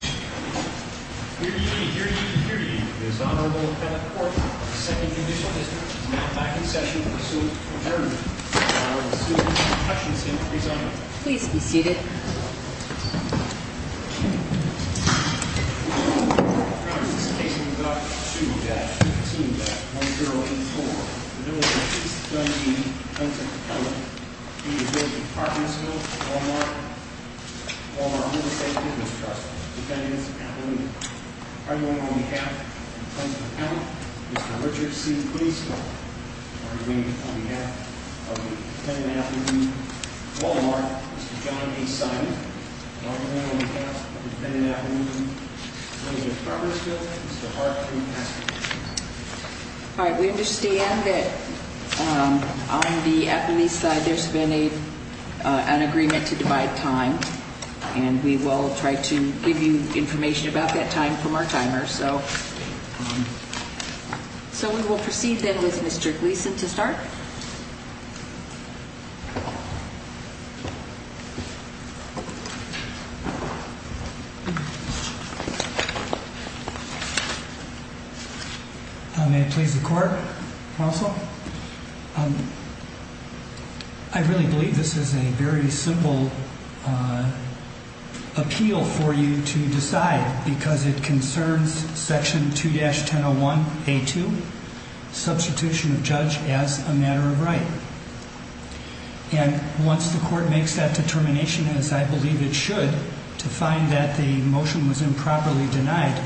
Here to eat, here to eat, here to eat, is Honorable Kenneth Porter of the 2nd Judicial District, who is now back in session to pursue an adjournment. I would like to welcome Mr. Hutchinson to present. Please be seated. Thank you. I present this case in regard to the shooting death, 15-1084, of the Village of East Dundee, Prentiss County, in the Village of Carpentersville, Walmart, of our Homestead Business Trust, Dependents Avenue. I'm going on behalf of the Prentiss County, Mr. Richard C. Policeman. I'm going on behalf of the Dependents Avenue, Walmart, Mr. John A. Simon. I'm going on behalf of the Dependents Avenue, Village of Carpentersville, Mr. Mark T. Paschke. All right, we understand that on the Appalachee side, there's been an agreement to divide time. And we will try to give you information about that time from our timer. So we will proceed, then, with Mr. Gleason to start. May it please the Court, counsel? Well, I really believe this is a very simple appeal for you to decide because it concerns Section 2-1001A2, substitution of judge as a matter of right. And once the Court makes that determination, as I believe it should, to find that the motion was improperly denied,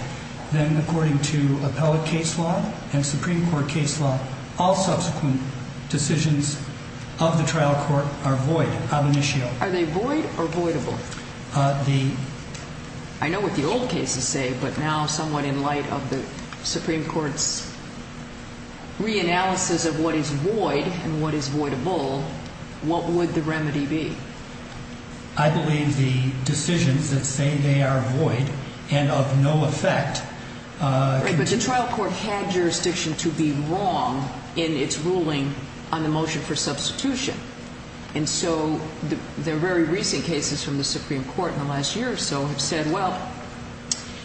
then, according to appellate case law and Supreme Court case law, all subsequent decisions of the trial court are void, ab initio. Are they void or voidable? I know what the old cases say, but now, somewhat in light of the Supreme Court's reanalysis of what is void and what is voidable, what would the remedy be? I believe the decisions that say they are void and of no effect continue. Right, but the trial court had jurisdiction to be wrong in its ruling on the motion for substitution. And so the very recent cases from the Supreme Court in the last year or so have said, well,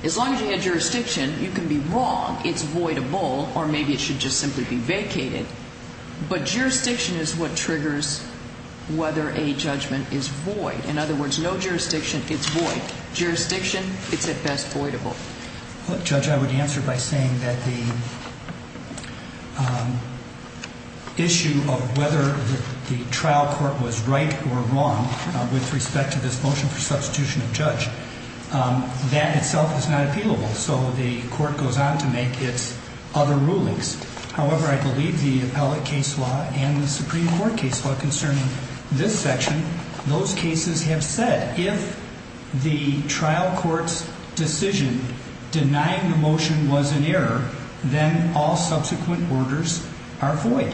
as long as you had jurisdiction, you can be wrong. It's voidable, or maybe it should just simply be vacated. But jurisdiction is what triggers whether a judgment is void. In other words, no jurisdiction, it's void. Jurisdiction, it's at best voidable. Judge, I would answer by saying that the issue of whether the trial court was right or wrong with respect to this motion for substitution of judge, that itself is not appealable, so the Court goes on to make its other rulings. However, I believe the appellate case law and the Supreme Court case law concerning this section, those cases have said, if the trial court's decision denying the motion was an error, then all subsequent orders are void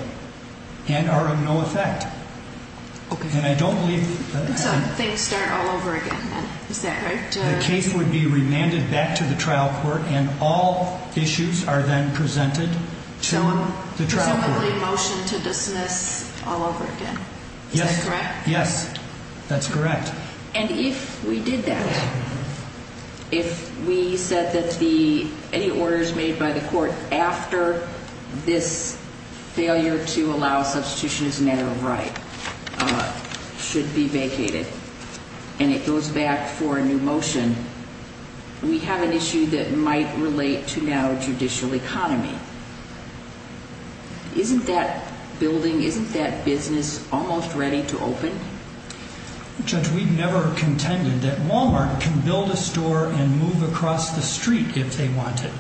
and are of no effect. Okay. And I don't believe that happened. And so things start all over again then. Is that right? The case would be remanded back to the trial court, and all issues are then presented to the trial court. So presumably a motion to dismiss all over again. Is that correct? Yes. That's correct. And if we did that, if we said that any orders made by the court after this failure to allow substitution as an error of right should be vacated, and it goes back for a new motion, we have an issue that might relate to now judicial economy. Isn't that building, isn't that business almost ready to open? Judge, we've never contended that Wal-Mart can build a store and move across the street if they want it.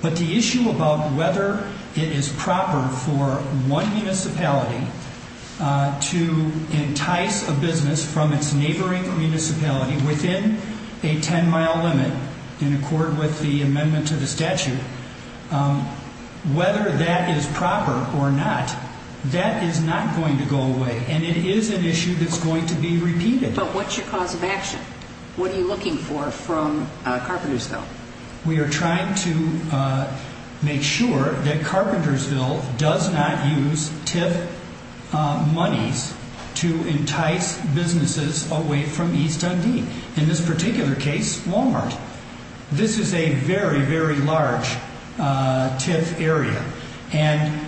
But the issue about whether it is proper for one municipality to entice a business from its neighboring municipality within a 10-mile limit, in accord with the amendment to the statute, whether that is proper or not, that is not going to go away. And it is an issue that's going to be repeated. But what's your cause of action? What are you looking for from Carpentersville? We are trying to make sure that Carpentersville does not use TIF monies to entice businesses away from East Undine. In this particular case, Wal-Mart. This is a very, very large TIF area. And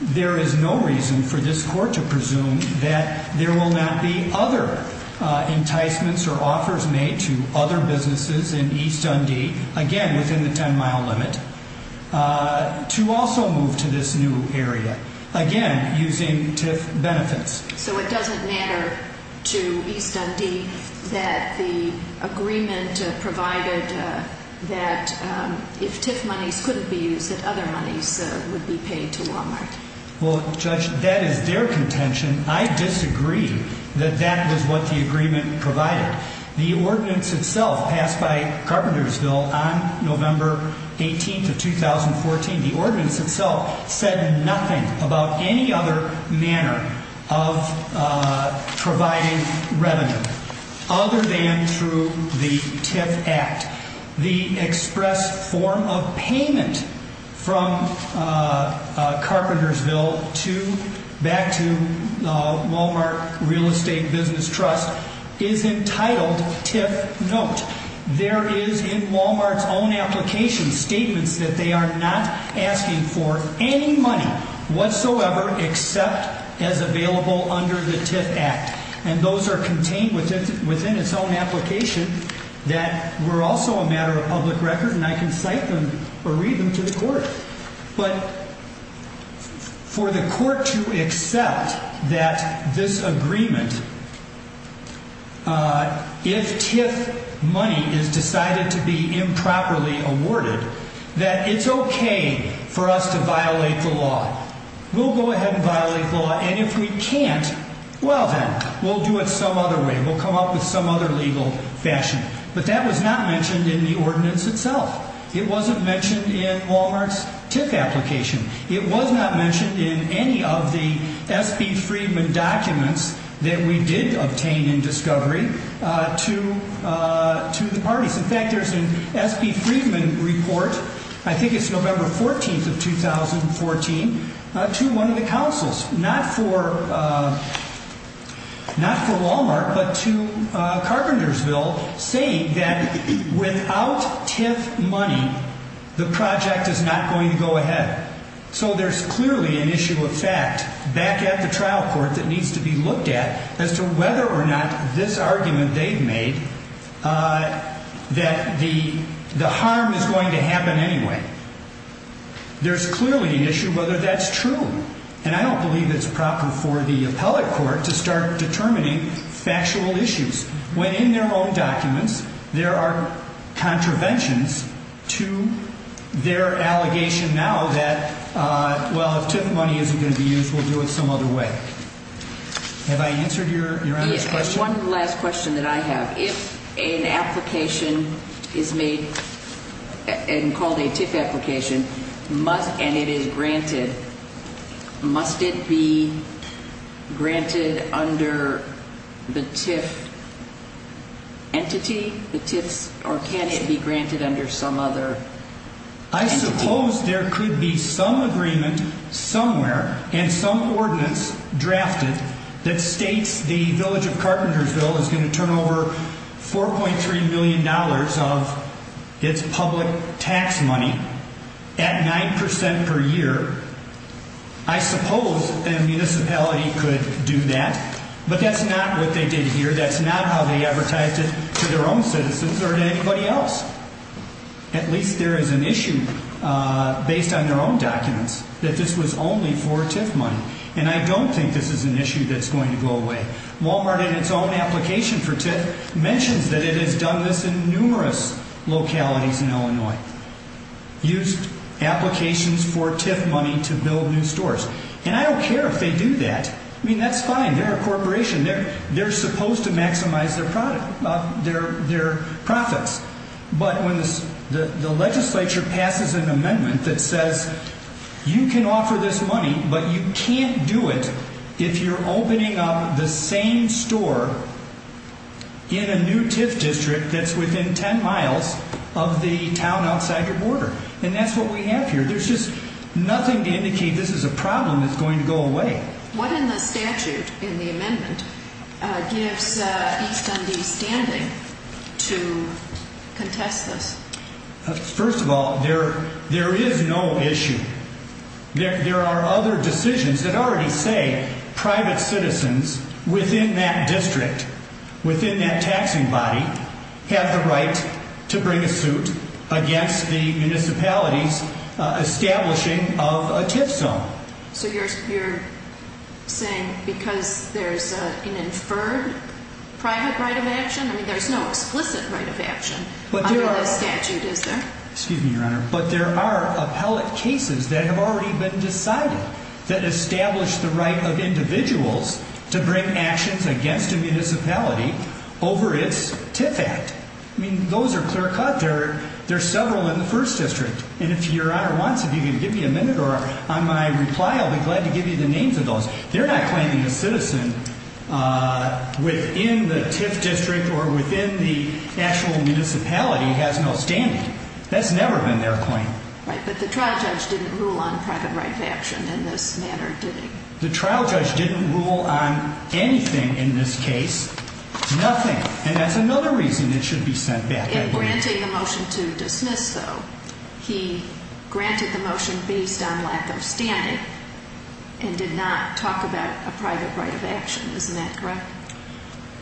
there is no reason for this court to presume that there will not be other enticements or offers made to other businesses in East Undine, again, within the 10-mile limit, to also move to this new area, again, using TIF benefits. So it doesn't matter to East Undine that the agreement provided that if TIF monies couldn't be used, that other monies would be paid to Wal-Mart? Well, Judge, that is their contention. I disagree that that is what the agreement provided. The ordinance itself passed by Carpentersville on November 18th of 2014, the ordinance itself said nothing about any other manner of providing revenue other than through the TIF Act. The express form of payment from Carpentersville back to Wal-Mart Real Estate Business Trust is entitled TIF note. There is in Wal-Mart's own application statements that they are not asking for any money whatsoever except as available under the TIF Act. And those are contained within its own application that were also a matter of public record, and I can cite them or read them to the court. But for the court to accept that this agreement, if TIF money is decided to be improperly awarded, that it's okay for us to violate the law. We'll go ahead and violate the law, and if we can't, well then, we'll do it some other way. We'll come up with some other legal fashion. But that was not mentioned in the ordinance itself. It wasn't mentioned in Wal-Mart's TIF application. It was not mentioned in any of the S.B. Freedman documents that we did obtain in discovery to the parties. In fact, there's an S.B. Freedman report, I think it's November 14th of 2014, to one of the councils, not for Wal-Mart, but to Carpentersville, saying that without TIF money, the project is not going to go ahead. So there's clearly an issue of fact back at the trial court that needs to be looked at as to whether or not this argument they've made that the harm is going to happen anyway. There's clearly an issue whether that's true, and I don't believe it's proper for the appellate court to start determining factual issues when in their own documents there are contraventions to their allegation now that, well, if TIF money isn't going to be used, we'll do it some other way. Have I answered your end of the question? One last question that I have. If an application is made and called a TIF application and it is granted, must it be granted under the TIF entity, the TIFs, or can it be granted under some other entity? I suppose there could be some agreement somewhere and some ordinance drafted that states the village of Carpentersville is going to turn over $4.3 million of its public tax money at 9% per year. I suppose a municipality could do that, but that's not what they did here. That's not how they advertised it to their own citizens or to anybody else. At least there is an issue based on their own documents that this was only for TIF money, and I don't think this is an issue that's going to go away. Walmart in its own application for TIF mentions that it has done this in numerous localities in Illinois, used applications for TIF money to build new stores. And I don't care if they do that. I mean, that's fine. They're a corporation. They're supposed to maximize their profits. But when the legislature passes an amendment that says you can offer this money, but you can't do it if you're opening up the same store in a new TIF district that's within 10 miles of the town outside your border. And that's what we have here. There's just nothing to indicate this is a problem that's going to go away. What in the statute in the amendment gives East MD standing to contest this? First of all, there is no issue. There are other decisions that already say private citizens within that district, within that taxing body, have the right to bring a suit against the municipality's establishing of a TIF zone. So you're saying because there's an inferred private right of action? I mean, there's no explicit right of action under this statute, is there? Excuse me, Your Honor, but there are appellate cases that have already been decided that establish the right of individuals to bring actions against a municipality over its TIF Act. I mean, those are clear-cut. There are several in the first district. And if Your Honor wants, if you can give me a minute on my reply, I'll be glad to give you the names of those. They're not claiming a citizen within the TIF district or within the actual municipality has no standing. That's never been their claim. Right, but the trial judge didn't rule on private right of action in this manner, did he? The trial judge didn't rule on anything in this case. Nothing. And that's another reason it should be sent back. In granting the motion to dismiss, though, he granted the motion based on lack of standing and did not talk about a private right of action. Isn't that correct?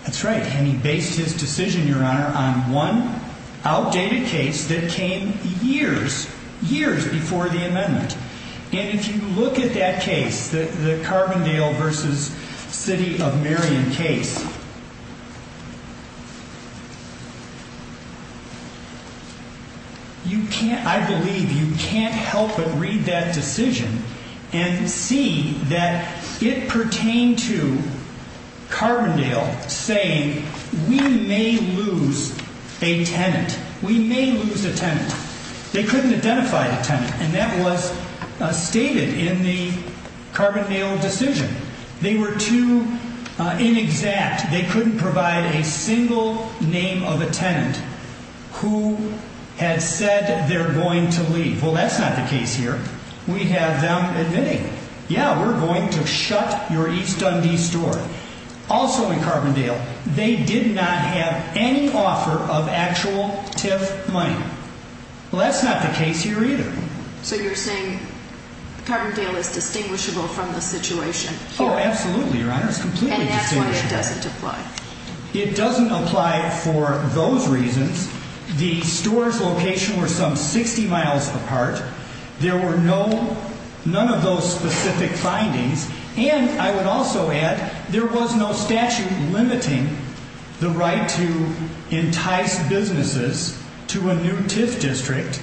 That's right. And he based his decision, Your Honor, on one outdated case that came years, years before the amendment. And if you look at that case, the Carbondale v. City of Marion case, you can't, I believe you can't help but read that decision and see that it pertained to Carbondale saying we may lose a tenant. We may lose a tenant. They couldn't identify the tenant, and that was stated in the Carbondale decision. They were too inexact. They couldn't provide a single name of a tenant who had said they're going to leave. Well, that's not the case here. We have them admitting, yeah, we're going to shut your East Dundee store. Also in Carbondale, they did not have any offer of actual TIF money. Well, that's not the case here either. So you're saying Carbondale is distinguishable from the situation here? Oh, absolutely, Your Honor. It's completely distinguishable. And that's why it doesn't apply. It doesn't apply for those reasons. The store's location was some 60 miles apart. There were no, none of those specific findings. And I would also add there was no statute limiting the right to entice businesses to a new TIF district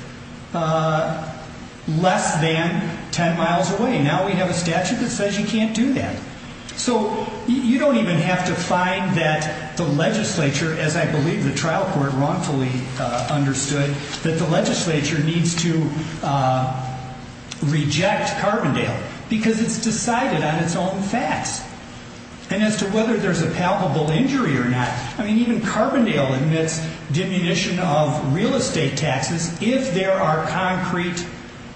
less than 10 miles away. Now we have a statute that says you can't do that. So you don't even have to find that the legislature, as I believe the trial court wrongfully understood, that the legislature needs to reject Carbondale because it's decided on its own facts. And as to whether there's a palpable injury or not, I mean, even Carbondale admits diminution of real estate taxes if there are concrete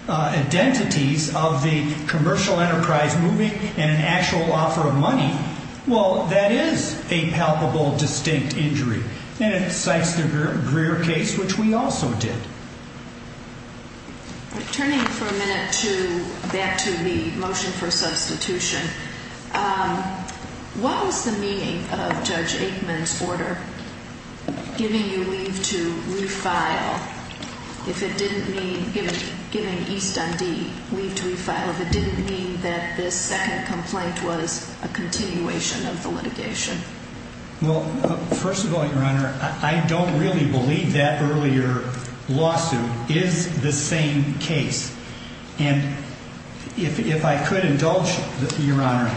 identities of the commercial enterprise moving and an actual offer of money. Well, that is a palpable, distinct injury. And it cites the Greer case, which we also did. Turning for a minute to, back to the motion for substitution, what was the meaning of Judge Aikman's order giving you leave to refile? If it didn't mean, giving East on D leave to refile, if it didn't mean that this second complaint was a continuation of the litigation? Well, first of all, Your Honor, I don't really believe that earlier lawsuit is the same case. And if I could indulge, Your Honor,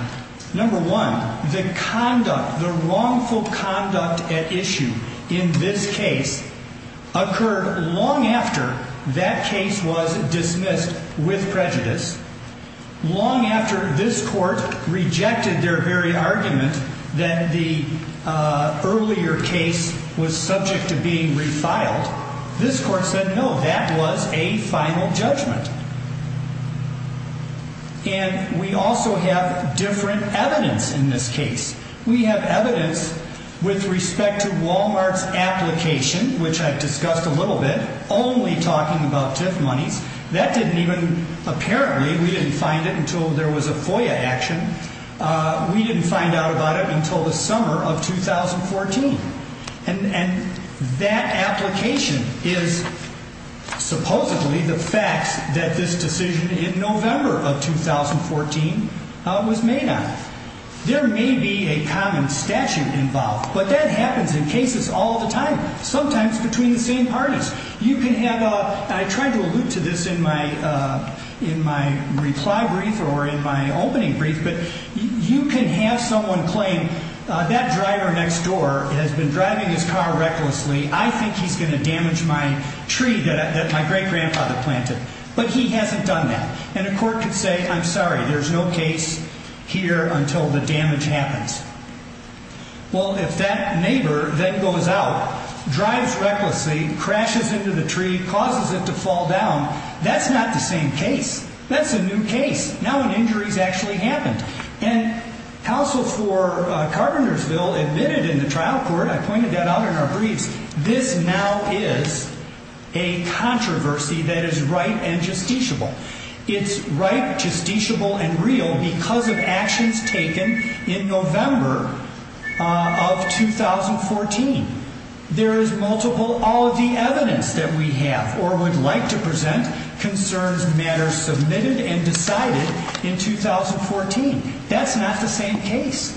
number one, the conduct, the wrongful conduct at issue in this case occurred long after that case was dismissed with prejudice, long after this court rejected their very argument that the earlier case was subject to being refiled. This court said, no, that was a final judgment. And we also have different evidence in this case. We have evidence with respect to Walmart's application, which I've discussed a little bit, only talking about TIF monies. That didn't even, apparently, we didn't find it until there was a FOIA action. We didn't find out about it until the summer of 2014. And that application is supposedly the facts that this decision in November of 2014 was made on. There may be a common statute involved, but that happens in cases all the time, sometimes between the same parties. You can have a, and I tried to allude to this in my reply brief or in my opening brief, but you can have someone claim that driver next door has been driving his car recklessly. I think he's going to damage my tree that my great-grandfather planted, but he hasn't done that. And a court could say, I'm sorry, there's no case here until the damage happens. Well, if that neighbor then goes out, drives recklessly, crashes into the tree, causes it to fall down, that's not the same case. That's a new case. Now an injury's actually happened. And counsel for Carpenter's bill admitted in the trial court, I pointed that out in our briefs, this now is a controversy that is right and justiciable. It's right, justiciable, and real because of actions taken in November of 2014. There is multiple, all of the evidence that we have or would like to present concerns matters submitted and decided in 2014. That's not the same case.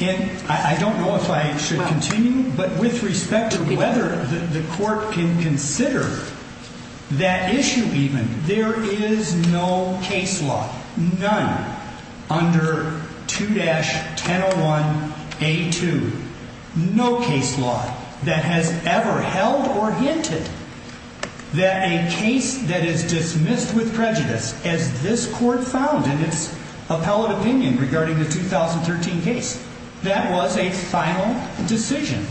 And I don't know if I should continue, but with respect to whether the court can consider that issue even, there is no case law, none under 2-1001A2, no case law that has ever held or hinted that a case that is dismissed with prejudice, as this court found in its appellate opinion regarding the 2013 case. That was a final decision.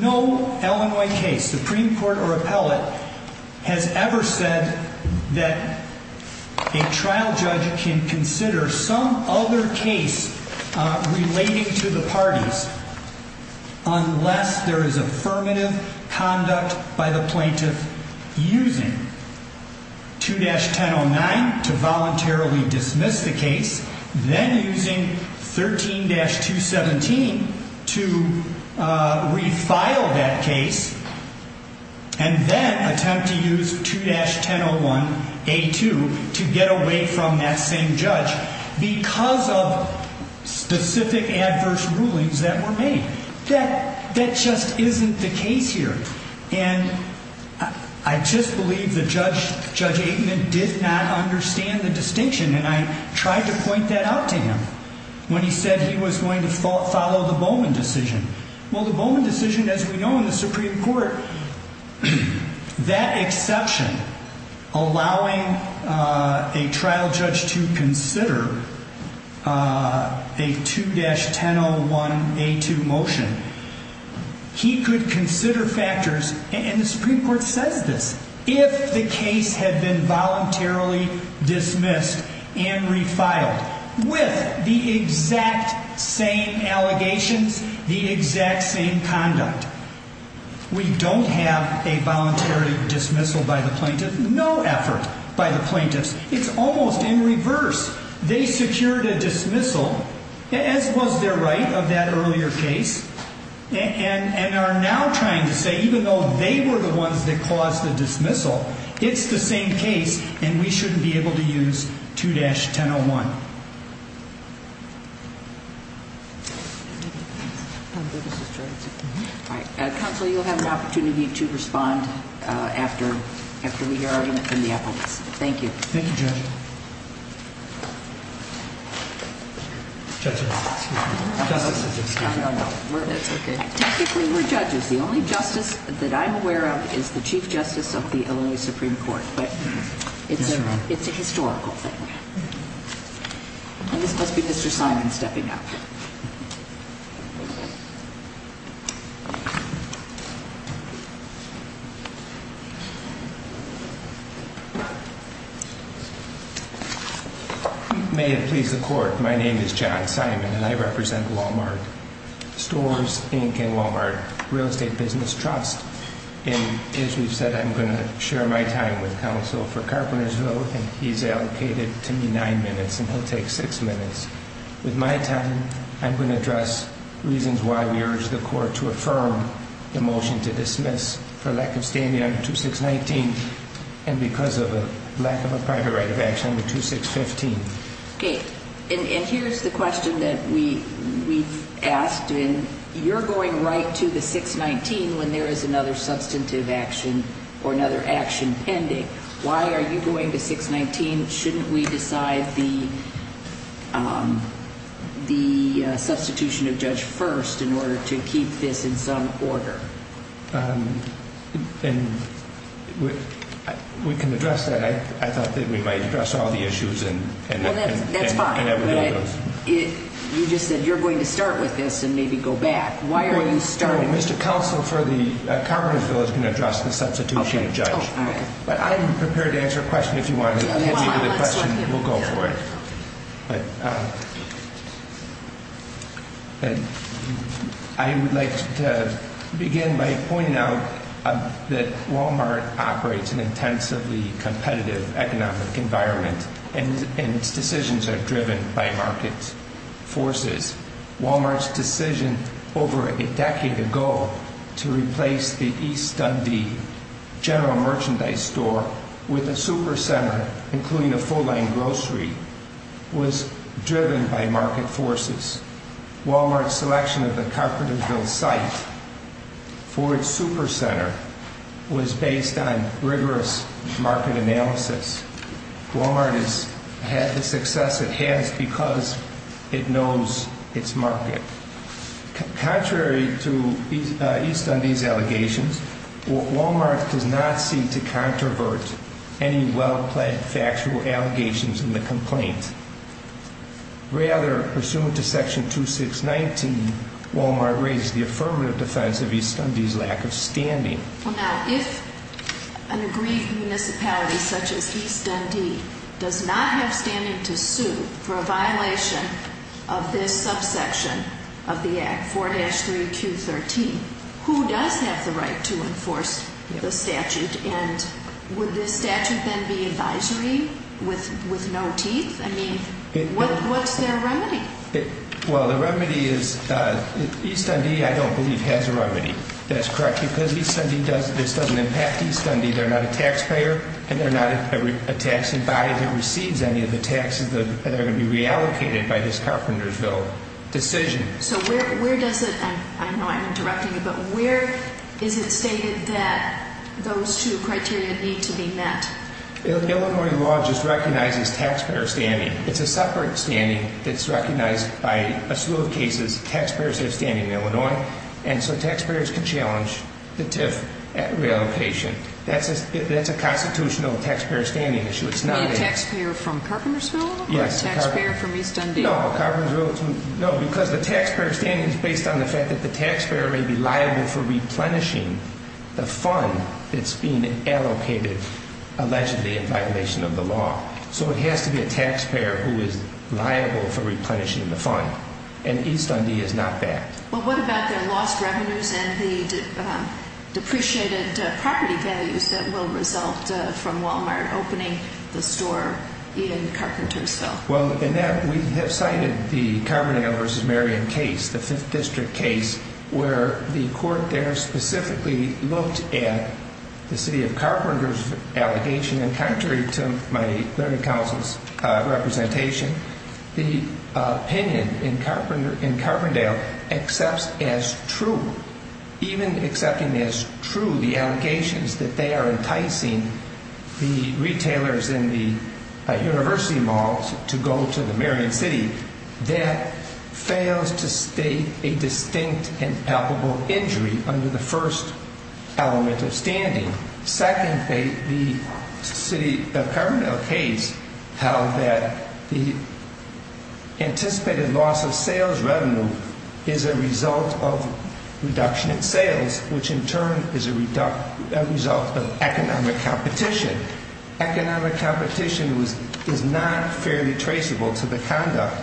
No Illinois case, Supreme Court or appellate, has ever said that a trial judge can consider some other case relating to the parties unless there is affirmative conduct by the plaintiff using 2-1009 to voluntarily dismiss the case, then using 13-217 to refile that case, and then attempt to use 2-1001A2 to get away from that same judge. Because of specific adverse rulings that were made. That just isn't the case here. And I just believe that Judge Aikman did not understand the distinction, and I tried to point that out to him when he said he was going to follow the Bowman decision. Well, the Bowman decision, as we know in the Supreme Court, that exception allowing a trial judge to consider a 2-1001A2 motion, he could consider factors, and the Supreme Court says this, if the case had been voluntarily dismissed and refiled with the exact same allegations, the exact same conduct. We don't have a voluntary dismissal by the plaintiff. No effort by the plaintiffs. It's almost in reverse. They secured a dismissal, as was their right of that earlier case, and are now trying to say even though they were the ones that caused the dismissal, it's the same case, and we shouldn't be able to use 2-1001. Counsel, you'll have an opportunity to respond after we hear argument from the appellants. Thank you. Thank you, Judge. Technically, we're judges. The only justice that I'm aware of is the Chief Justice of the Illinois Supreme Court, but it's a historical thing. And this must be Mr. Simon stepping up. My name is John Simon, and I represent Walmart Stores, Inc., and Walmart Real Estate Business Trust. And as we've said, I'm going to share my time with counsel for Carpenter's vote, and he's allocated to me nine minutes, and he'll take six minutes. With my time, I'm going to address reasons why we urge the court to affirm the motion to dismiss for lack of standing under 2619 and because of a lack of a private right of action under 2615. Okay. And here's the question that we've asked, and you're going right to the 619 when there is another substantive action or another action pending. Why are you going to 619? Shouldn't we decide the substitution of judge first in order to keep this in some order? And we can address that. I thought that we might address all the issues and everything else. Well, that's fine. But you just said you're going to start with this and maybe go back. Why are you starting? Well, Mr. Counsel for the Carpenter bill is going to address the substitution of judge. Okay. Oh, all right. But I'm prepared to answer a question if you want to hit me with a question. We'll go for it. I would like to begin by pointing out that Walmart operates an intensively competitive economic environment, and its decisions are driven by market forces. Walmart's decision over a decade ago to replace the East Dundee general merchandise store with a super center, including a full-line grocery, was driven by market forces. Walmart's selection of the Carpenterville site for its super center was based on rigorous market analysis. Walmart has had the success it has because it knows its market. Contrary to East Dundee's allegations, Walmart does not seem to controvert any well-plaid factual allegations in the complaint. Rather, pursuant to Section 2619, Walmart raised the affirmative defense of East Dundee's lack of standing. Well, now, if an aggrieved municipality such as East Dundee does not have standing to sue for a violation of this subsection of the Act, 4-3Q13, who does have the right to enforce the statute? And would this statute then be advisory with no teeth? I mean, what's their remedy? Well, the remedy is East Dundee, I don't believe, has a remedy. That's correct, because this doesn't impact East Dundee. They're not a taxpayer, and they're not a taxing body that receives any of the taxes that are going to be reallocated by this Carpenterville decision. So where does it – I know I'm interrupting you, but where is it stated that those two criteria need to be met? Illinois law just recognizes taxpayer standing. It's a separate standing that's recognized by a slew of cases. Taxpayers have standing in Illinois, and so taxpayers can challenge the TIF reallocation. That's a constitutional taxpayer standing issue. The taxpayer from Carpenterville or the taxpayer from East Dundee? No, Carpenterville. No, because the taxpayer standing is based on the fact that the taxpayer may be liable for replenishing the fund that's being allocated allegedly in violation of the law. So it has to be a taxpayer who is liable for replenishing the fund. And East Dundee is not that. Well, what about their lost revenues and the depreciated property values that will result from Walmart opening the store in Carpenterville? Well, Annette, we have cited the Carbondale v. Marion case, the 5th District case, where the court there specifically looked at the City of Carpenter's allegation. And contrary to my Learning Council's representation, the opinion in Carpendale accepts as true, even accepting as true the allegations that they are enticing the retailers in the university malls to go to the Marion City. That fails to state a distinct and palpable injury under the first element of standing. Second, the City of Carpenter case held that the anticipated loss of sales revenue is a result of reduction in sales, which in turn is a result of economic competition. Economic competition is not fairly traceable to the conduct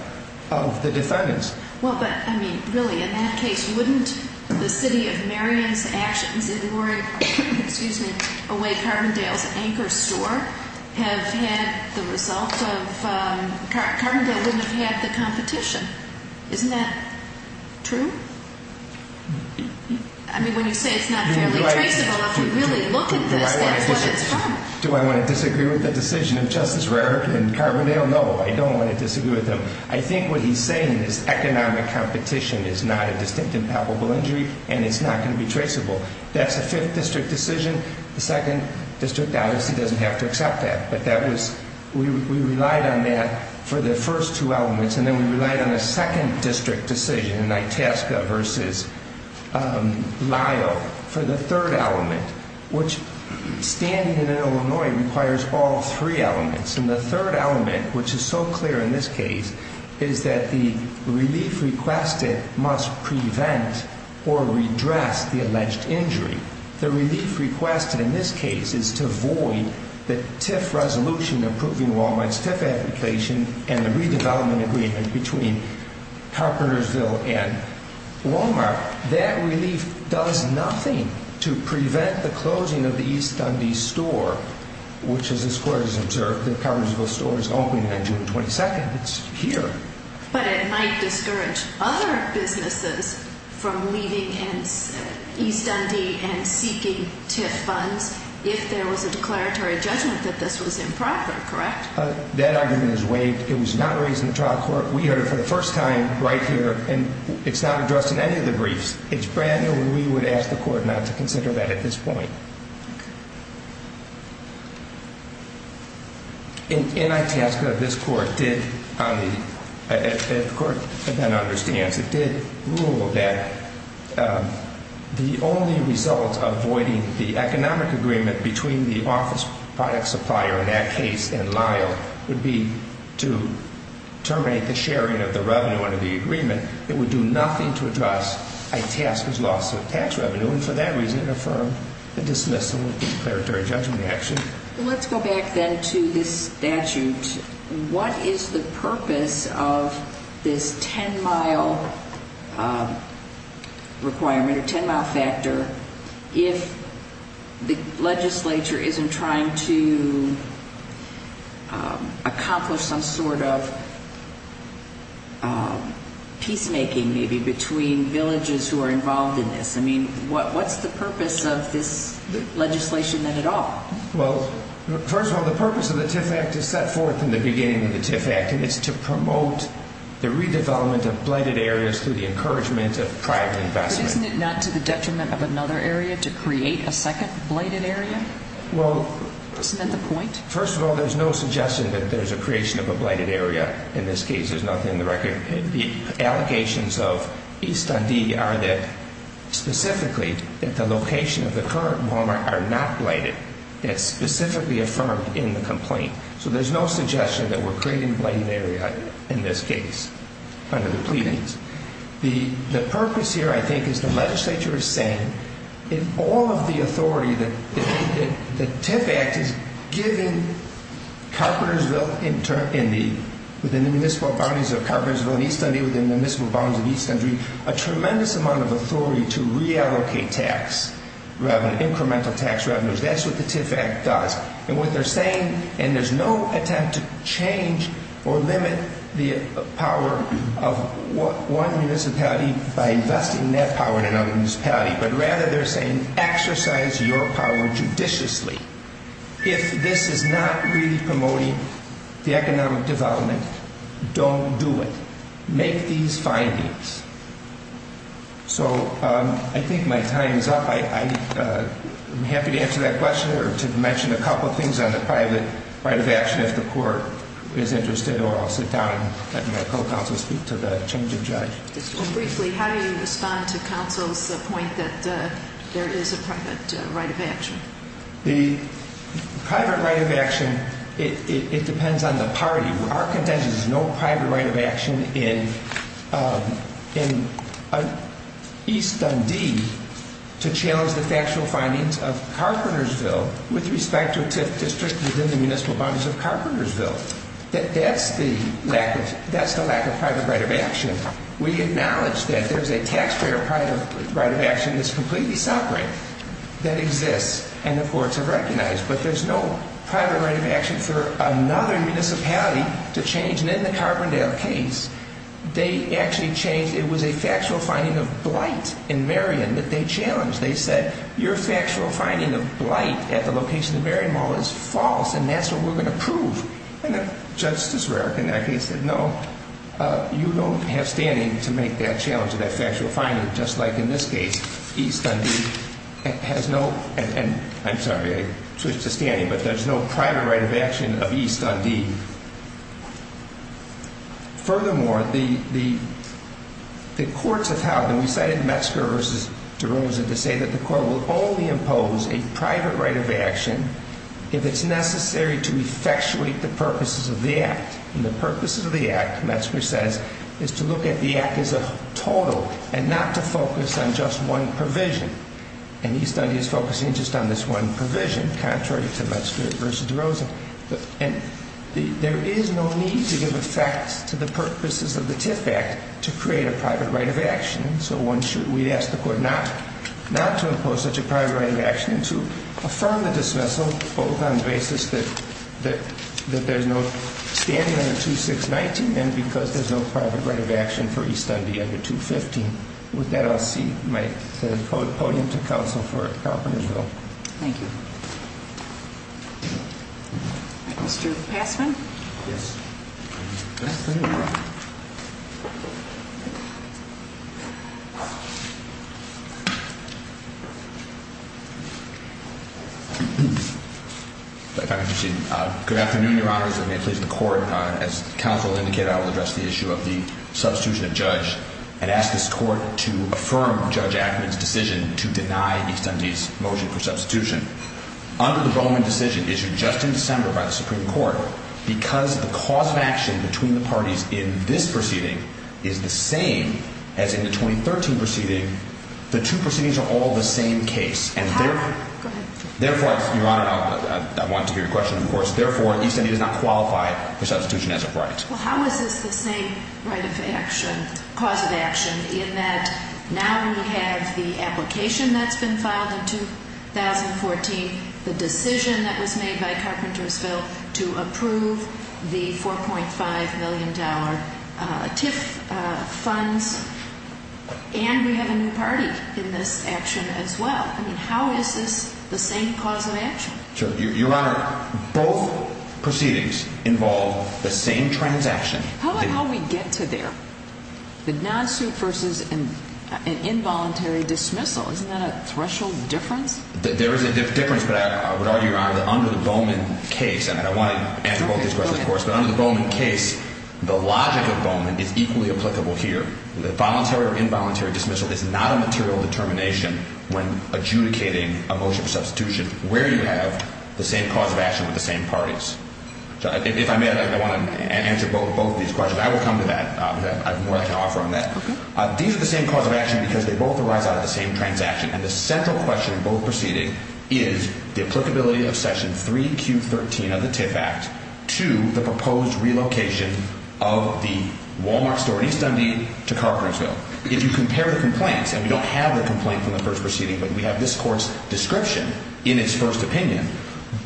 of the defendants. Well, but, I mean, really, in that case, wouldn't the City of Marion's actions in warring, excuse me, away Carbondale's anchor store have had the result of – Carbondale wouldn't have had the competition. Isn't that true? I mean, when you say it's not fairly traceable, if you really look at this, that's what it's from. Do I want to disagree with the decision of Justice Rarick and Carbondale? No, I don't want to disagree with them. I think what he's saying is economic competition is not a distinct and palpable injury, and it's not going to be traceable. That's a 5th District decision. The 2nd District obviously doesn't have to accept that. But that was – we relied on that for the first two elements. And then we relied on a 2nd District decision in Itasca versus Lyo for the third element, which standing in Illinois requires all three elements. And the third element, which is so clear in this case, is that the relief requested must prevent or redress the alleged injury. The relief requested in this case is to void the TIF resolution approving Wal-Mart's TIF application and the redevelopment agreement between Carpentersville and Wal-Mart. That relief does nothing to prevent the closing of the East Dundee store, which as this Court has observed, the Carpentersville store is opening on June 22nd. It's here. But it might discourage other businesses from leaving East Dundee and seeking TIF funds if there was a declaratory judgment that this was improper, correct? That argument is waived. It was not raised in the trial court. We heard it for the first time right here, and it's not addressed in any of the briefs. It's brand new, and we would ask the Court not to consider that at this point. In Itasca, this Court did, as the Court then understands, it did rule that the only result of voiding the economic agreement between the office product supplier in that case and Lyo would be to terminate the sharing of the revenue under the agreement. It would do nothing to address Itasca's loss of tax revenue, and for that reason it affirmed the dismissal of the declaratory judgment action. Let's go back then to this statute. What is the purpose of this 10-mile requirement or 10-mile factor if the legislature isn't trying to accomplish some sort of peacemaking maybe between villages who are involved in this? I mean, what's the purpose of this legislation then at all? Well, first of all, the purpose of the TIF Act is set forth in the beginning of the TIF Act, and it's to promote the redevelopment of blighted areas through the encouragement of private investment. But isn't it not to the detriment of another area to create a second blighted area? Well... Isn't that the point? First of all, there's no suggestion that there's a creation of a blighted area in this case. There's nothing in the record. The allegations of East Dundee are that specifically that the location of the current Walmart are not blighted. It's specifically affirmed in the complaint. So there's no suggestion that we're creating a blighted area in this case under the pleadings. The purpose here, I think, is the legislature is saying in all of the authority that the TIF Act has given Carpentersville, within the municipal boundaries of Carpentersville and East Dundee, within the municipal boundaries of East Dundee, a tremendous amount of authority to reallocate tax revenue, incremental tax revenues. That's what the TIF Act does. And what they're saying, and there's no attempt to change or limit the power of one municipality by investing that power in another municipality, but rather they're saying exercise your power judiciously. If this is not really promoting the economic development, don't do it. Make these findings. So I think my time is up. I'm happy to answer that question or to mention a couple of things on the private right of action if the court is interested, or I'll sit down and let my co-counsel speak to the change of judge. Briefly, how do you respond to counsel's point that there is a private right of action? The private right of action, it depends on the party. Our contention is no private right of action in East Dundee to challenge the factual findings of Carpentersville with respect to a TIF district within the municipal boundaries of Carpentersville. That's the lack of private right of action. We acknowledge that there's a taxpayer private right of action that's completely separate that exists and the courts have recognized, but there's no private right of action for another municipality to change. And in the Carbondale case, they actually changed. It was a factual finding of blight in Marion that they challenged. They said, your factual finding of blight at the location of the Marion Mall is false, and that's what we're going to prove. And Justice Roehrig in that case said, no, you don't have standing to make that challenge of that factual finding, just like in this case. East Dundee has no, and I'm sorry, I switched to standing, but there's no private right of action of East Dundee. Furthermore, the courts have held, and we cited Metzger v. DeRosa to say that the court will only impose a private right of action if it's necessary to effectuate the purposes of the act. And the purposes of the act, Metzger says, is to look at the act as a total and not to focus on just one provision. And East Dundee is focusing just on this one provision, contrary to Metzger v. DeRosa. And there is no need to give effect to the purposes of the TIF Act to create a private right of action. And so we ask the court not to impose such a private right of action and to affirm the dismissal, both on the basis that there's no standing under 2619 and because there's no private right of action for East Dundee under 215. With that, I'll see my podium to counsel for Calperton as well. Thank you. Mr. Passman? Yes. If I could proceed. Good afternoon, Your Honors, and may it please the court. As counsel indicated, I will address the issue of the substitution of judge and ask this court to affirm Judge Ackerman's decision to deny East Dundee's motion for substitution. Under the Bowman decision issued just in December by the Supreme Court, because the cause of action between the parties in this proceeding is the same as in the 2013 proceeding, the two proceedings are all the same case. Therefore, Your Honor, I wanted to hear your question, of course. Therefore, East Dundee does not qualify for substitution as a right. Well, how is this the same right of action, cause of action, in that now we have the application that's been filed in 2014, the decision that was made by Carpentersville to approve the $4.5 million TIF funds, and we have a new party in this action as well. I mean, how is this the same cause of action? Your Honor, both proceedings involve the same transaction. How about how we get to there? The non-suit versus an involuntary dismissal. Isn't that a threshold difference? There is a difference, but I would argue, Your Honor, that under the Bowman case, and I want to answer both these questions, of course, but under the Bowman case, the logic of Bowman is equally applicable here. The voluntary or involuntary dismissal is not a material determination when adjudicating a motion for substitution, where you have the same cause of action with the same parties. If I may, I want to answer both of these questions. I will come to that. I have more I can offer on that. These are the same cause of action because they both arise out of the same transaction, and the central question in both proceedings is the applicability of Section 3Q13 of the TIF Act to the proposed relocation of the Wal-Mart store in East Dundee to Carpentersville. If you compare the complaints, and we don't have the complaint from the first proceeding, but we have this Court's description in its first opinion,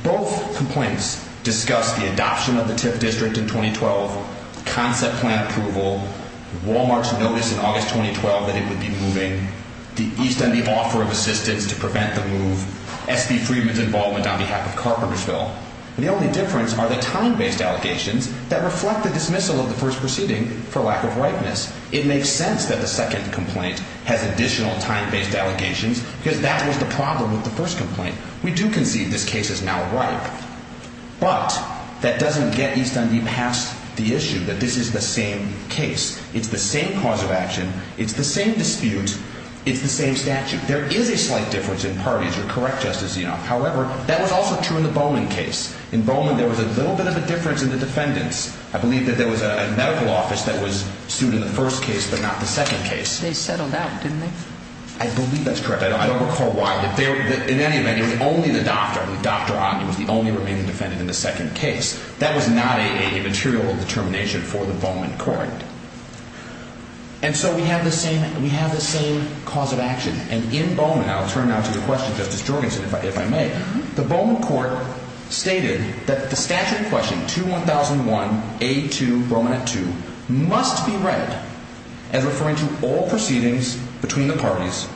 both complaints discuss the adoption of the TIF district in 2012, concept plan approval, Wal-Mart's notice in August 2012 that it would be moving, the East Dundee offer of assistance to prevent the move, S.P. Freeman's involvement on behalf of Carpentersville. The only difference are the time-based allegations that reflect the dismissal of the first proceeding for lack of ripeness. It makes sense that the second complaint has additional time-based allegations because that was the problem with the first complaint. We do concede this case is now ripe, but that doesn't get East Dundee past the issue that this is the same case. It's the same cause of action. It's the same dispute. It's the same statute. There is a slight difference in parties. You're correct, Justice Zinoff. However, that was also true in the Bowman case. In Bowman, there was a little bit of a difference in the defendants. I believe that there was a medical office that was sued in the first case but not the second case. They settled out, didn't they? I believe that's correct. I don't recall why. In any event, it was only the doctor. I believe Dr. Otten was the only remaining defendant in the second case. That was not a material determination for the Bowman court. And so we have the same cause of action. And in Bowman, I'll turn now to the question, Justice Jorgensen, if I may. The Bowman court stated that the statute in question, 2-1001A2, Roman at 2, must be read as referring to all proceedings between the parties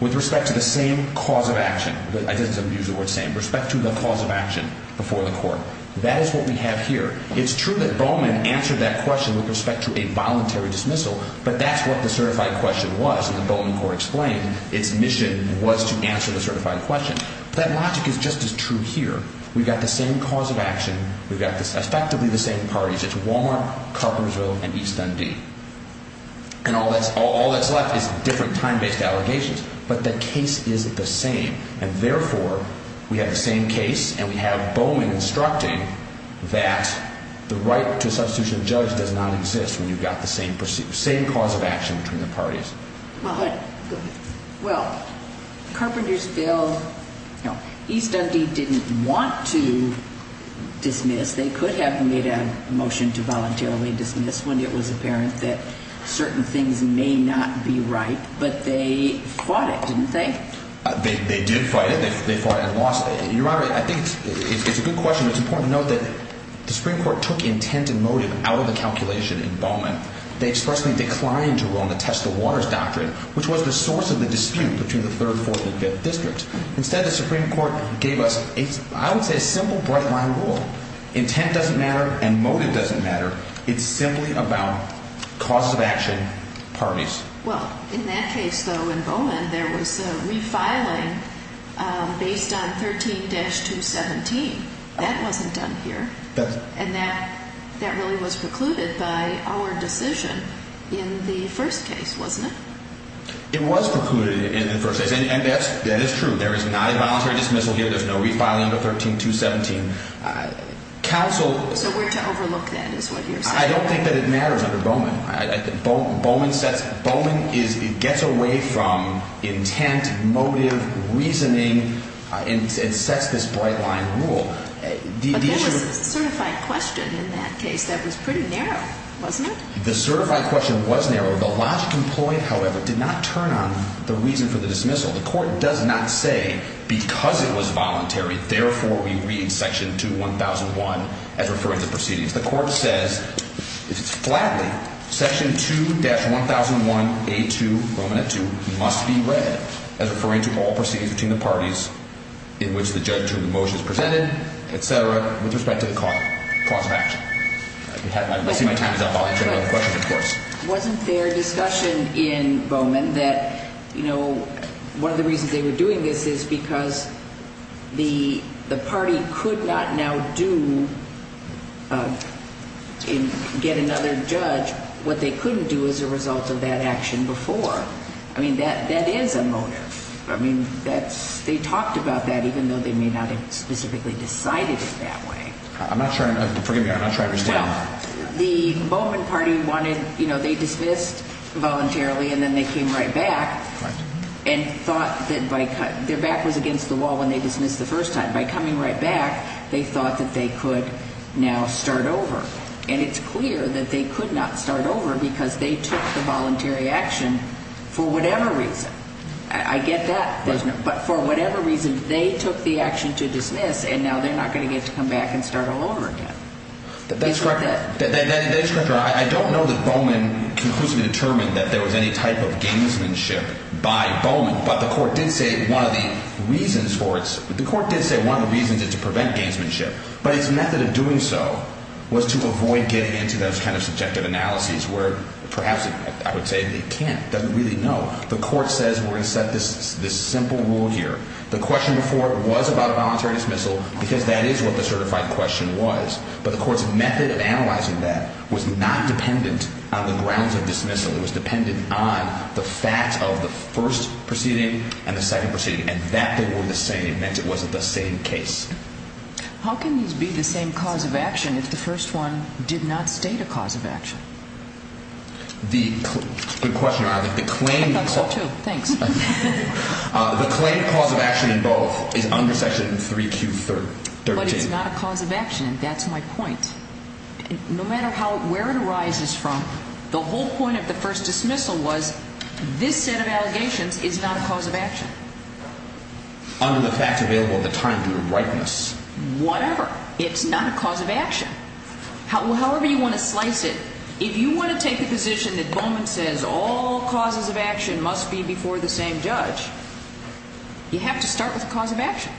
with respect to the same cause of action. I didn't use the word same. Respect to the cause of action before the court. That is what we have here. It's true that Bowman answered that question with respect to a voluntary dismissal, but that's what the certified question was. As the Bowman court explained, its mission was to answer the certified question. That logic is just as true here. We've got the same cause of action. We've got effectively the same parties. It's Walmart, Carpersville, and East MD. And all that's left is different time-based allegations. But the case is the same. And therefore, we have the same case, and we have Bowman instructing that the right to a substitution of judge does not exist when you've got the same cause of action between the parties. Well, Carpentersville, East MD didn't want to dismiss. They could have made a motion to voluntarily dismiss when it was apparent that certain things may not be right. But they fought it, didn't they? They did fight it. They fought it and lost it. Your Honor, I think it's a good question, but it's important to note that the Supreme Court took intent and motive out of the calculation in Bowman. They expressly declined to rule on the test of waters doctrine, which was the source of the dispute between the 3rd, 4th, and 5th districts. Instead, the Supreme Court gave us, I would say, a simple bright-line rule. Intent doesn't matter and motive doesn't matter. It's simply about cause of action parties. Well, in that case, though, in Bowman, there was refiling based on 13-217. That wasn't done here. And that really was precluded by our decision in the first case, wasn't it? It was precluded in the first case, and that is true. There is not a voluntary dismissal here. There's no refiling under 13-217. So we're to overlook that is what you're saying. I don't think that it matters under Bowman. Bowman gets away from intent, motive, reasoning, and sets this bright-line rule. But there was a certified question in that case that was pretty narrow, wasn't it? The certified question was narrow. The logic employed, however, did not turn on the reason for the dismissal. The Court does not say because it was voluntary, therefore, we read Section 2-1001 as referring to proceedings. The Court says, if it's flatly, Section 2-1001A2, Bowman at 2, must be read as referring to all proceedings between the parties in which the judge took the motions presented, et cetera, with respect to the cause of action. I see my time is up. I'll answer your other questions, of course. It wasn't fair discussion in Bowman that, you know, one of the reasons they were doing this is because the party could not now do and get another judge what they couldn't do as a result of that action before. I mean, that is a motive. I mean, they talked about that even though they may not have specifically decided it that way. I'm not sure I understand. Well, the Bowman party wanted, you know, they dismissed voluntarily and then they came right back and thought that their back was against the wall when they dismissed the first time. By coming right back, they thought that they could now start over. And it's clear that they could not start over because they took the voluntary action for whatever reason. I get that. But for whatever reason, they took the action to dismiss, and now they're not going to get to come back and start all over again. That's correct. I don't know that Bowman conclusively determined that there was any type of gamesmanship by Bowman. But the court did say one of the reasons for its – the court did say one of the reasons is to prevent gamesmanship. But its method of doing so was to avoid getting into those kind of subjective analyses where perhaps I would say they can't, doesn't really know. The court says we're going to set this simple rule here. The question before was about a voluntary dismissal because that is what the certified question was. But the court's method of analyzing that was not dependent on the grounds of dismissal. It was dependent on the fact of the first proceeding and the second proceeding, and that they were the same meant it wasn't the same case. How can these be the same cause of action if the first one did not state a cause of action? The – good question, Your Honor. The claim – I thought so too. Thanks. The claim of cause of action in both is under Section 3Q13. But it's not a cause of action. That's my point. No matter how – where it arises from, the whole point of the first dismissal was this set of allegations is not a cause of action. Under the fact available at the time due to rightness. Whatever. It's not a cause of action. However you want to slice it, if you want to take a position that Bowman says all causes of action must be before the same judge, you have to start with a cause of action.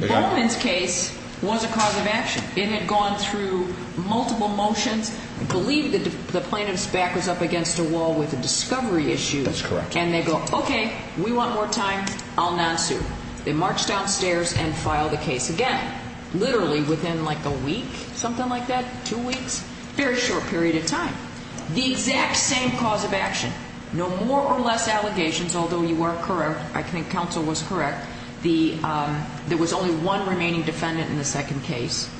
Bowman's case was a cause of action. It had gone through multiple motions. I believe the plaintiff's back was up against a wall with a discovery issue. That's correct. And they go, okay, we want more time. I'll non-sue. They march downstairs and file the case again. Literally within like a week, something like that, two weeks. Very short period of time. The exact same cause of action. No more or less allegations, although you are correct. I think counsel was correct. There was only one remaining defendant in the second case.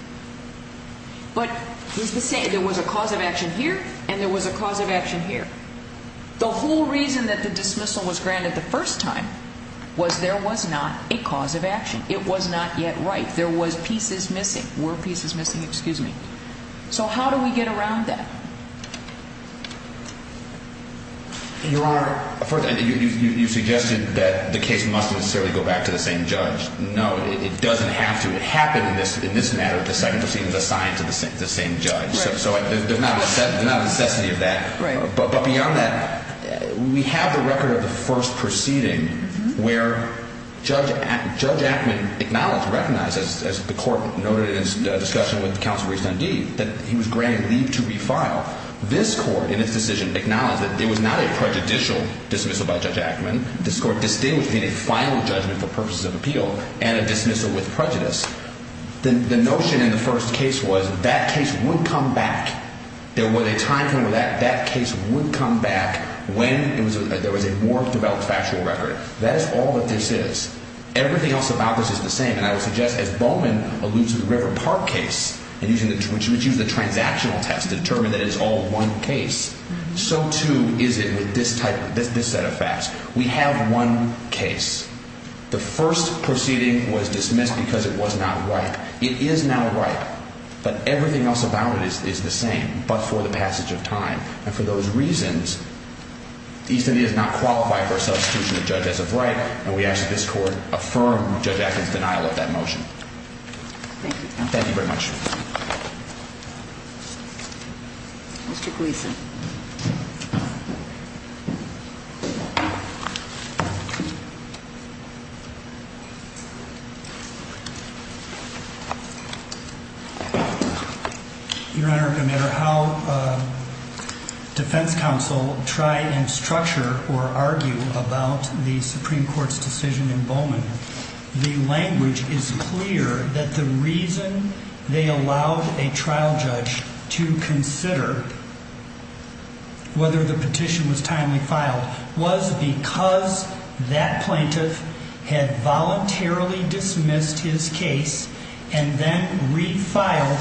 But there was a cause of action here and there was a cause of action here. The whole reason that the dismissal was granted the first time was there was not a cause of action. It was not yet right. There was pieces missing. Were pieces missing? Excuse me. So how do we get around that? Your Honor, you suggested that the case must necessarily go back to the same judge. No, it doesn't have to. It happened in this matter that the second proceeding was assigned to the same judge. So there's not a necessity of that. But beyond that, we have the record of the first proceeding where Judge Ackman acknowledged, recognized, as the court noted in its discussion with counsel Reese Dundee, that he was granted leave to refile. This court, in its decision, acknowledged that it was not a prejudicial dismissal by Judge Ackman. This court distinguished it being a final judgment for purposes of appeal and a dismissal with prejudice. The notion in the first case was that case would come back. There was a time frame where that case would come back when there was a more developed factual record. That is all that this is. Everything else about this is the same. And I would suggest, as Bowman alludes to the River Park case, which used the transactional test to determine that it's all one case, so too is it with this set of facts. We have one case. The first proceeding was dismissed because it was not ripe. It is now ripe, but everything else about it is the same but for the passage of time. And for those reasons, East India does not qualify for a substitution of judges of right, and we ask that this court affirm Judge Ackman's denial of that motion. Thank you, counsel. Thank you very much. Mr. Gleeson. Your Honor, no matter how defense counsel try and structure or argue about the Supreme Court's decision in Bowman, the language is clear that the reason they allowed a trial judge to consider whether the petition was timely filed was because that plaintiff had voluntarily dismissed his case and then refiled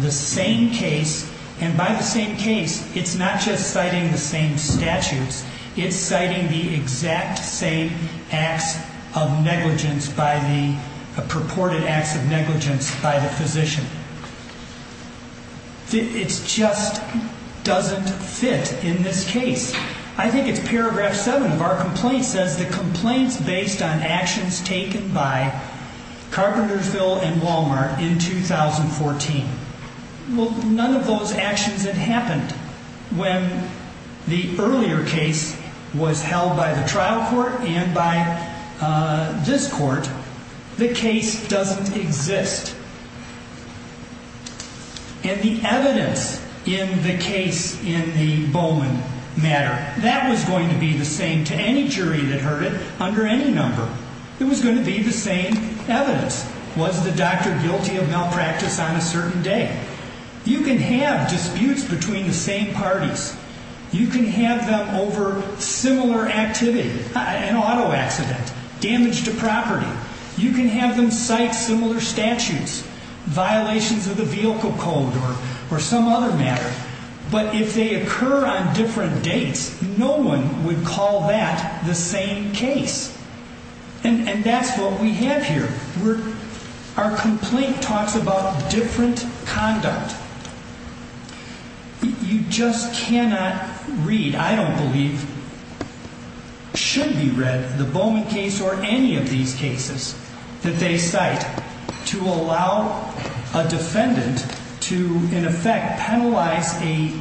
the same case. And by the same case, it's not just citing the same statutes. It's citing the exact same acts of negligence by the ‑‑ purported acts of negligence by the physician. It just doesn't fit in this case. I think it's paragraph 7 of our complaint says the complaint's based on actions taken by Carpentersville and Walmart in 2014. Well, none of those actions had happened when the earlier case was held by the trial court and by this court. The case doesn't exist. And the evidence in the case in the Bowman matter, that was going to be the same to any jury that heard it under any number. It was going to be the same evidence. Was the doctor guilty of malpractice on a certain day? You can have disputes between the same parties. You can have them over similar activity, an auto accident, damage to property. You can have them cite similar statutes, violations of the vehicle code or some other matter. But if they occur on different dates, no one would call that the same case. And that's what we have here. Our complaint talks about different conduct. You just cannot read, I don't believe, should be read the Bowman case or any of these cases that they cite to allow a defendant to, in effect, penalize a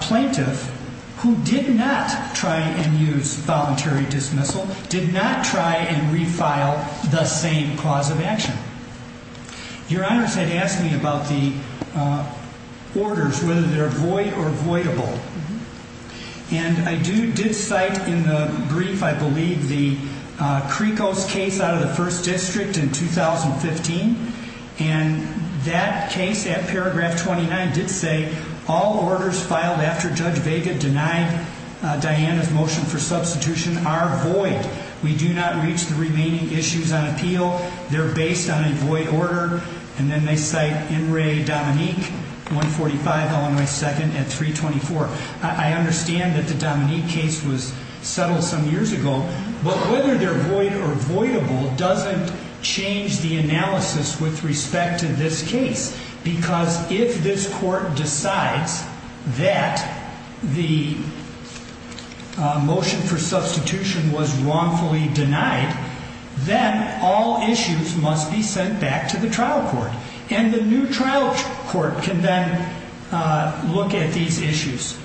plaintiff who did not try and use voluntary dismissal, did not try and refile the same cause of action. Your honors had asked me about the orders, whether they're void or voidable. And I do, did cite in the brief, I believe, the Krikos case out of the first district in 2015. And that case at paragraph 29 did say all orders filed after Judge Vega denied Diana's motion for substitution are void. We do not reach the remaining issues on appeal. They're based on a void order. And then they cite N. Ray Dominique, 2045, Illinois 2nd, at 324. I understand that the Dominique case was settled some years ago. But whether they're void or voidable doesn't change the analysis with respect to this case. Because if this court decides that the motion for substitution was wrongfully denied, then all issues must be sent back to the trial court. And the new trial court can then look at these issues.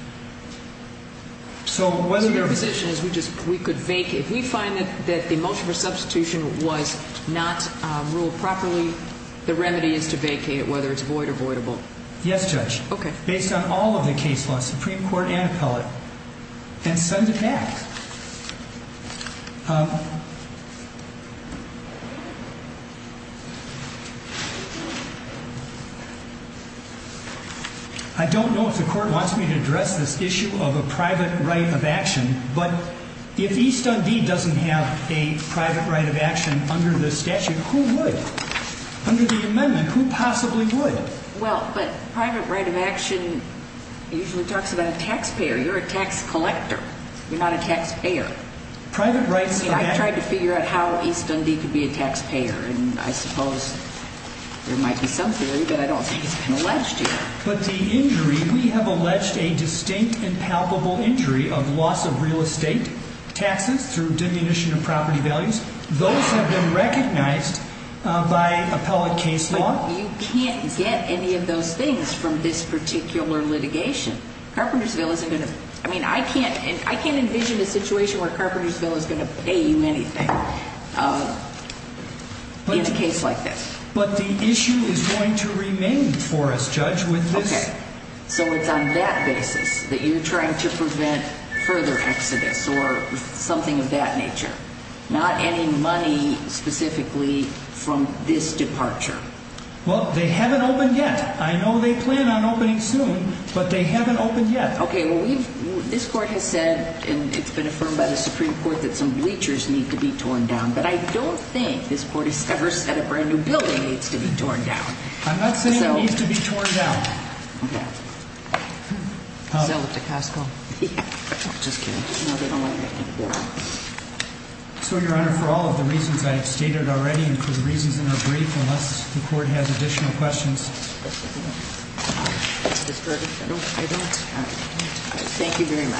So whether your position is we could vacate. If we find that the motion for substitution was not ruled properly, the remedy is to vacate it, whether it's void or voidable. Yes, Judge. OK. Based on all of the case laws, Supreme Court and appellate, and send it back. I don't know if the court wants me to address this issue of a private right of action. But if East Indy doesn't have a private right of action under the statute, who would? Under the amendment, who possibly would? Well, but private right of action usually talks about a taxpayer. You're a tax collector. You're not a taxpayer. I tried to figure out how East Indy could be a taxpayer, and I suppose there might be some theory, but I don't think it's been alleged here. But the injury, we have alleged a distinct and palpable injury of loss of real estate, taxes through diminution of property values. Those have been recognized by appellate case law. But you can't get any of those things from this particular litigation. Carpentersville isn't going to – I mean, I can't envision a situation where Carpentersville is going to pay you anything in a case like this. But the issue is going to remain for us, Judge, with this. OK. So it's on that basis that you're trying to prevent further exodus or something of that nature, not any money specifically from this departure. Well, they haven't opened yet. I know they plan on opening soon, but they haven't opened yet. OK. Well, we've – this Court has said, and it's been affirmed by the Supreme Court, that some bleachers need to be torn down. But I don't think this Court has ever said a brand-new building needs to be torn down. I'm not saying it needs to be torn down. OK. Sell it to Costco. Just kidding. No, they don't want to get any more. So, Your Honor, for all of the reasons I have stated already and for the reasons in our brief, unless the Court has additional questions. Mr. Ferguson. I don't. Thank you very much.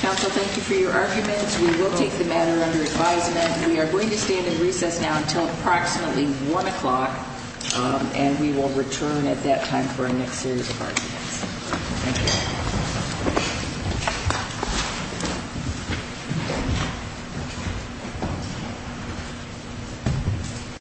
Counsel, thank you for your arguments. We will take the matter under advisement. We are going to stand in recess now until approximately 1 o'clock, and we will return at that time for our next series of arguments. Thank you. Thank you.